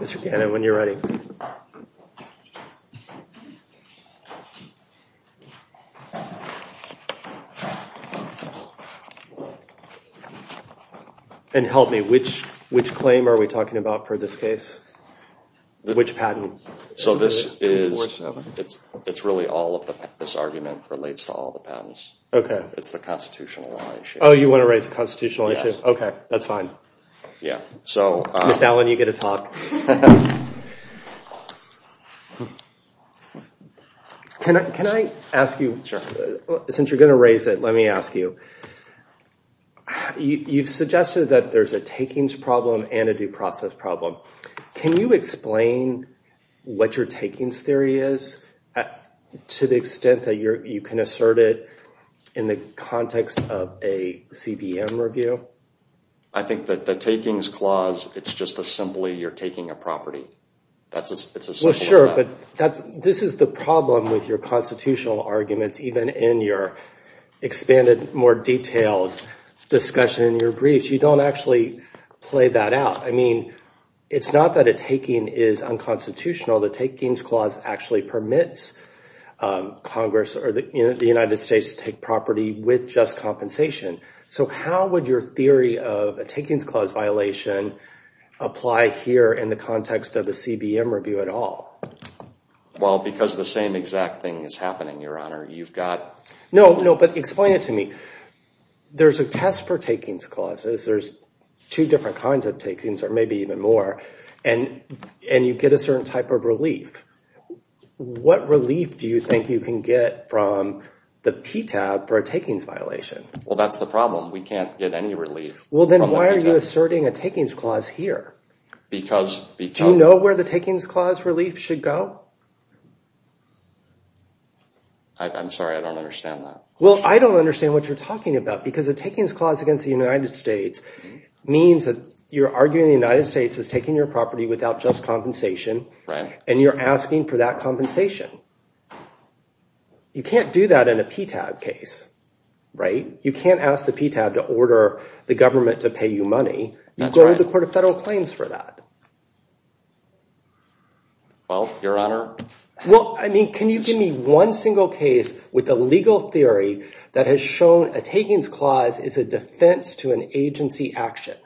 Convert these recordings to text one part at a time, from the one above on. Mr. Gannon, when you're ready. And help me, which claim are we talking about for this case? Which patent? So this is, it's really all of the, this argument relates to all the patents. Okay. It's the constitutional law issue. Oh, you want to raise the constitutional issue? Yes. Okay, that's fine. Yeah, so. Ms. Allen, you get to talk. Can I ask you, since you're going to raise it, let me ask you. You've suggested that there's a takings problem and a due process problem. Can you explain what your takings theory is to the extent that you can assert it in the context of a CBM review? I think that the takings clause, it's just as simply you're taking a property. That's as simple as that. Well, sure, but this is the problem with your constitutional arguments, even in your expanded, more detailed discussion in your briefs. You don't actually play that out. I mean, it's not that a taking is unconstitutional. The takings clause actually permits Congress or the United States to take property with just compensation. So how would your theory of a takings clause violation apply here in the context of a CBM review at all? Well, because the same exact thing is happening, Your Honor. You've got— No, no, but explain it to me. There's a test for takings clauses. There's two different kinds of takings, or maybe even more, and you get a certain type of relief. What relief do you think you can get from the PTAB for a takings violation? Well, that's the problem. We can't get any relief from the PTAB. Well, then why are you asserting a takings clause here? Because— Do you know where the takings clause relief should go? I'm sorry. I don't understand that. Well, I don't understand what you're talking about because a takings clause against the United States means that you're arguing the United States is taking your property without just compensation. Right. And you're asking for that compensation. You can't do that in a PTAB case, right? You can't ask the PTAB to order the government to pay you money. That's right. You go to the Court of Federal Claims for that. Well, Your Honor— Well, I mean, can you give me one single case with a legal theory that has shown a takings clause is a defense to an agency action,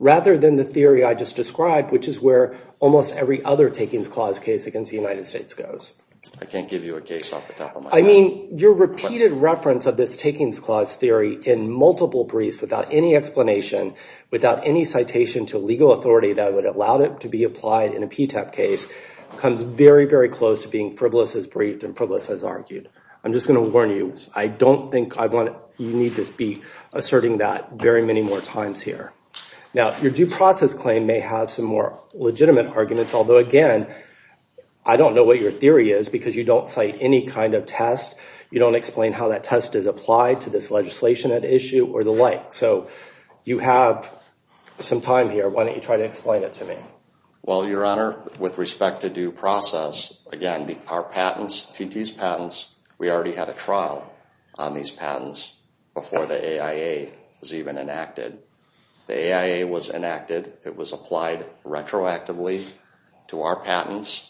rather than the theory I just described, which is where almost every other takings clause case against the United States goes? I can't give you a case off the top of my head. I mean, your repeated reference of this takings clause theory in multiple briefs without any explanation, without any citation to legal authority that would allow it to be applied in a PTAB case, comes very, very close to being frivolous as briefed and frivolous as argued. I'm just going to warn you. I don't think I want—you need to be asserting that very many more times here. Now, your due process claim may have some more legitimate arguments, although, again, I don't know what your theory is because you don't cite any kind of test. You don't explain how that test is applied to this legislation at issue or the like. So you have some time here. Why don't you try to explain it to me? Well, Your Honor, with respect to due process, again, our patents, TT's patents, we already had a trial on these patents before the AIA was even enacted. The AIA was enacted. It was applied retroactively to our patents.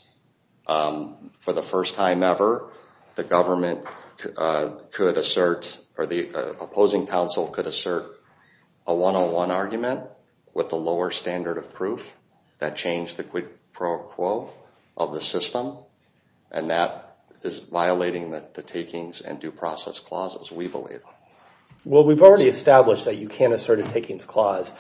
For the first time ever, the government could assert or the opposing counsel could assert a one-on-one argument with the lower standard of proof that changed the quid pro quo of the system, and that is violating the takings and due process clauses, we believe. Well, we've already established that you can't assert a takings clause,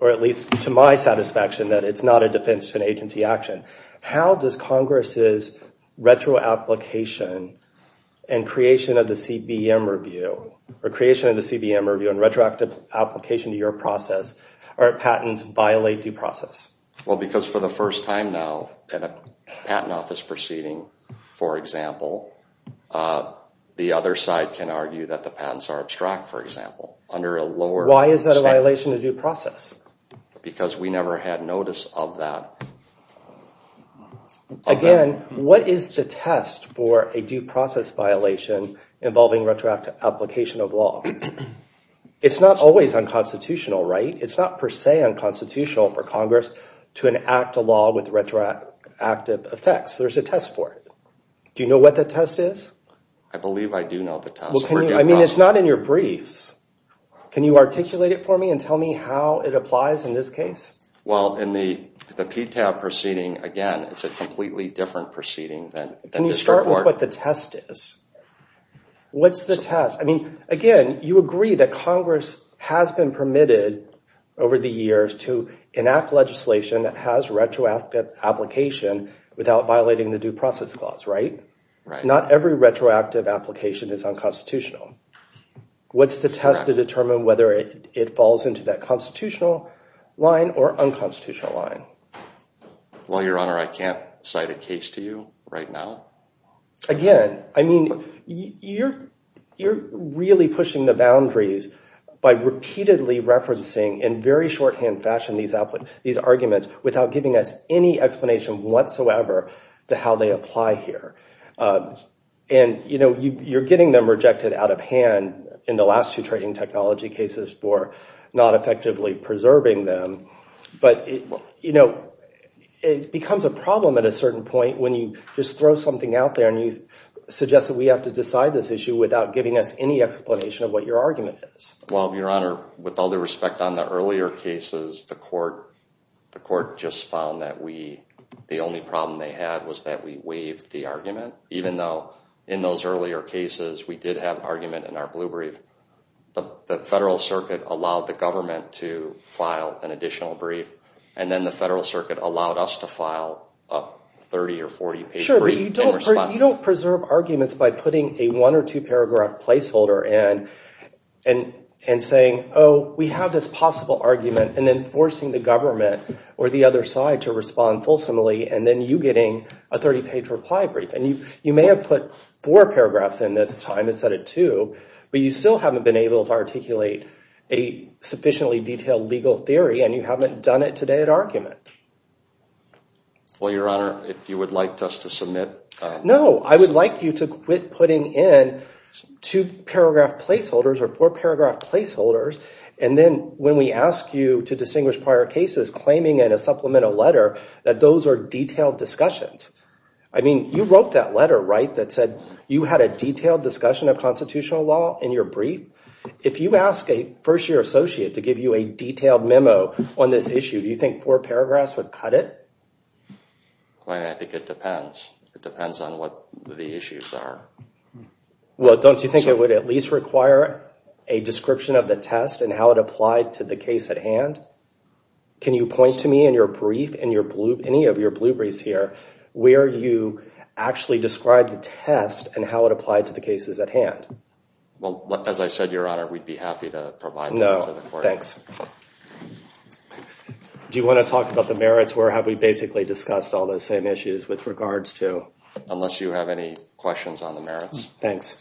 or at least to my satisfaction, that it's not a defense to an agency action. How does Congress's retroapplication and creation of the CBM review or creation of the CBM review and retroactive application to your process or patents violate due process? Well, because for the first time now, in a patent office proceeding, for example, the other side can argue that the patents are abstract, for example, under a lower standard. Why is that a violation of due process? Because we never had notice of that. Again, what is the test for a due process violation involving retroactive application of law? It's not always unconstitutional, right? It's not per se unconstitutional for Congress to enact a law with retroactive effects. There's a test for it. Do you know what the test is? I believe I do know the test for due process. I mean, it's not in your briefs. Can you articulate it for me and tell me how it applies in this case? Well, in the PTAB proceeding, again, it's a completely different proceeding than this report. Can you start with what the test is? What's the test? I mean, again, you agree that Congress has been permitted over the years to enact legislation that has retroactive application without violating the due process clause, right? Not every retroactive application is unconstitutional. What's the test to determine whether it falls into that constitutional line or unconstitutional line? Well, Your Honor, I can't cite a case to you right now. Again, I mean, you're really pushing the boundaries by repeatedly referencing in very shorthand fashion these arguments without giving us any explanation whatsoever to how they apply here. And, you know, you're getting them rejected out of hand in the last two trading technology cases for not effectively preserving them. But, you know, it becomes a problem at a certain point when you just throw something out there and you suggest that we have to decide this issue without giving us any explanation of what your argument is. Well, Your Honor, with all due respect, on the earlier cases, the court just found that we, the only problem they had was that we waived the argument, even though in those earlier cases we did have an argument in our blue brief. The Federal Circuit allowed the government to file an additional brief, and then the Federal Circuit allowed us to file a 30- or 40-page brief in response. Sure, but you don't preserve arguments by putting a one- or two-paragraph placeholder in and saying, oh, we have this possible argument, and then forcing the government or the other side to respond fulsomely, and then you getting a 30-page reply brief. And you may have put four paragraphs in this time instead of two, but you still haven't been able to articulate a sufficiently detailed legal theory, and you haven't done it today at argument. Well, Your Honor, if you would like us to submit... No, I would like you to quit putting in two-paragraph placeholders or four-paragraph placeholders, and then when we ask you to distinguish prior cases, claiming in a supplemental letter that those are detailed discussions. I mean, you wrote that letter, right, that said you had a detailed discussion of constitutional law in your brief? If you ask a first-year associate to give you a detailed memo on this issue, do you think four paragraphs would cut it? Your Honor, I think it depends. It depends on what the issues are. Well, don't you think it would at least require a description of the test and how it applied to the case at hand? Can you point to me in your brief, in any of your blueprints here, where you actually describe the test and how it applied to the cases at hand? Well, as I said, Your Honor, we'd be happy to provide that to the court. No, thanks. Do you want to talk about the merits, or have we basically discussed all those same issues with regards to... Unless you have any questions on the merits. Thanks.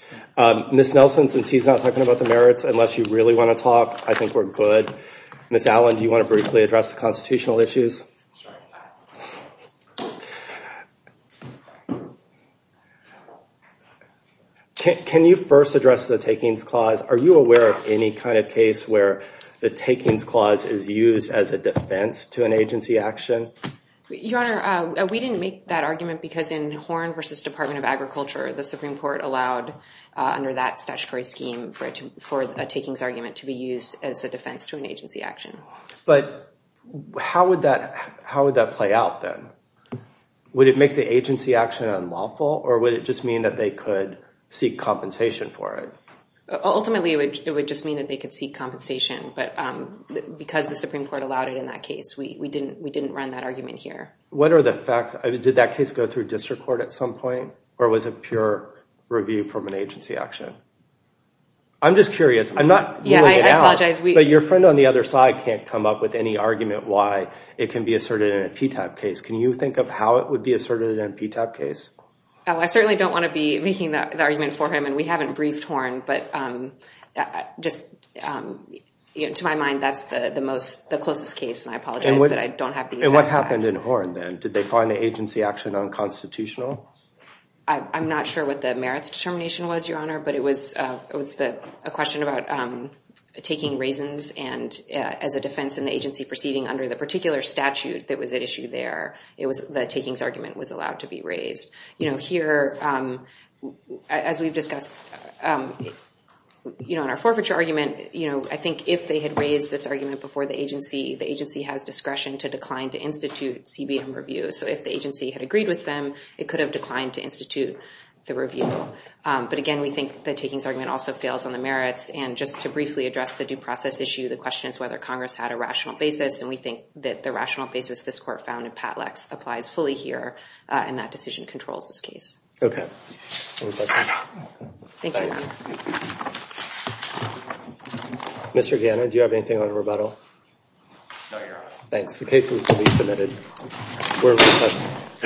Ms. Nelson, since he's not talking about the merits, unless you really want to talk, I think we're good. Ms. Allen, do you want to briefly address the constitutional issues? Sorry. Can you first address the takings clause? Are you aware of any kind of case where the takings clause is used as a defense to an agency action? Your Honor, we didn't make that argument because in Horn v. Department of Agriculture, the Supreme Court allowed under that statutory scheme for a takings argument to be used as a defense to an agency action. But how would that play out then? Would it make the agency action unlawful, or would it just mean that they could seek compensation for it? Ultimately, it would just mean that they could seek compensation, but because the Supreme Court allowed it in that case, we didn't run that argument here. What are the facts? Did that case go through district court at some point, or was it pure review from an agency action? I'm just curious. I'm not ruling it out, but your friend on the other side can't come up with any argument why it can be asserted in a PTAB case. Can you think of how it would be asserted in a PTAB case? I certainly don't want to be making the argument for him, and we haven't briefed Horn, but to my mind, that's the closest case, and I apologize that I don't have the exact facts. And what happened in Horn then? Did they find the agency action unconstitutional? I'm not sure what the merits determination was, Your Honor, but it was a question about taking raisins, and as a defense in the agency proceeding under the particular statute that was at issue there, the takings argument was allowed to be raised. Here, as we've discussed in our forfeiture argument, I think if they had raised this argument before the agency, the agency has discretion to decline to institute CBM review, so if the agency had agreed with them, it could have declined to institute the review. But again, we think the takings argument also fails on the merits, and just to briefly address the due process issue, the question is whether Congress had a rational basis, and we think that the rational basis this court found in Patlex applies fully here, and that decision controls this case. Okay. Thank you. Thanks. Mr. Gannon, do you have anything on rebuttal? No, Your Honor. Thanks. The case is to be submitted. We're recessed.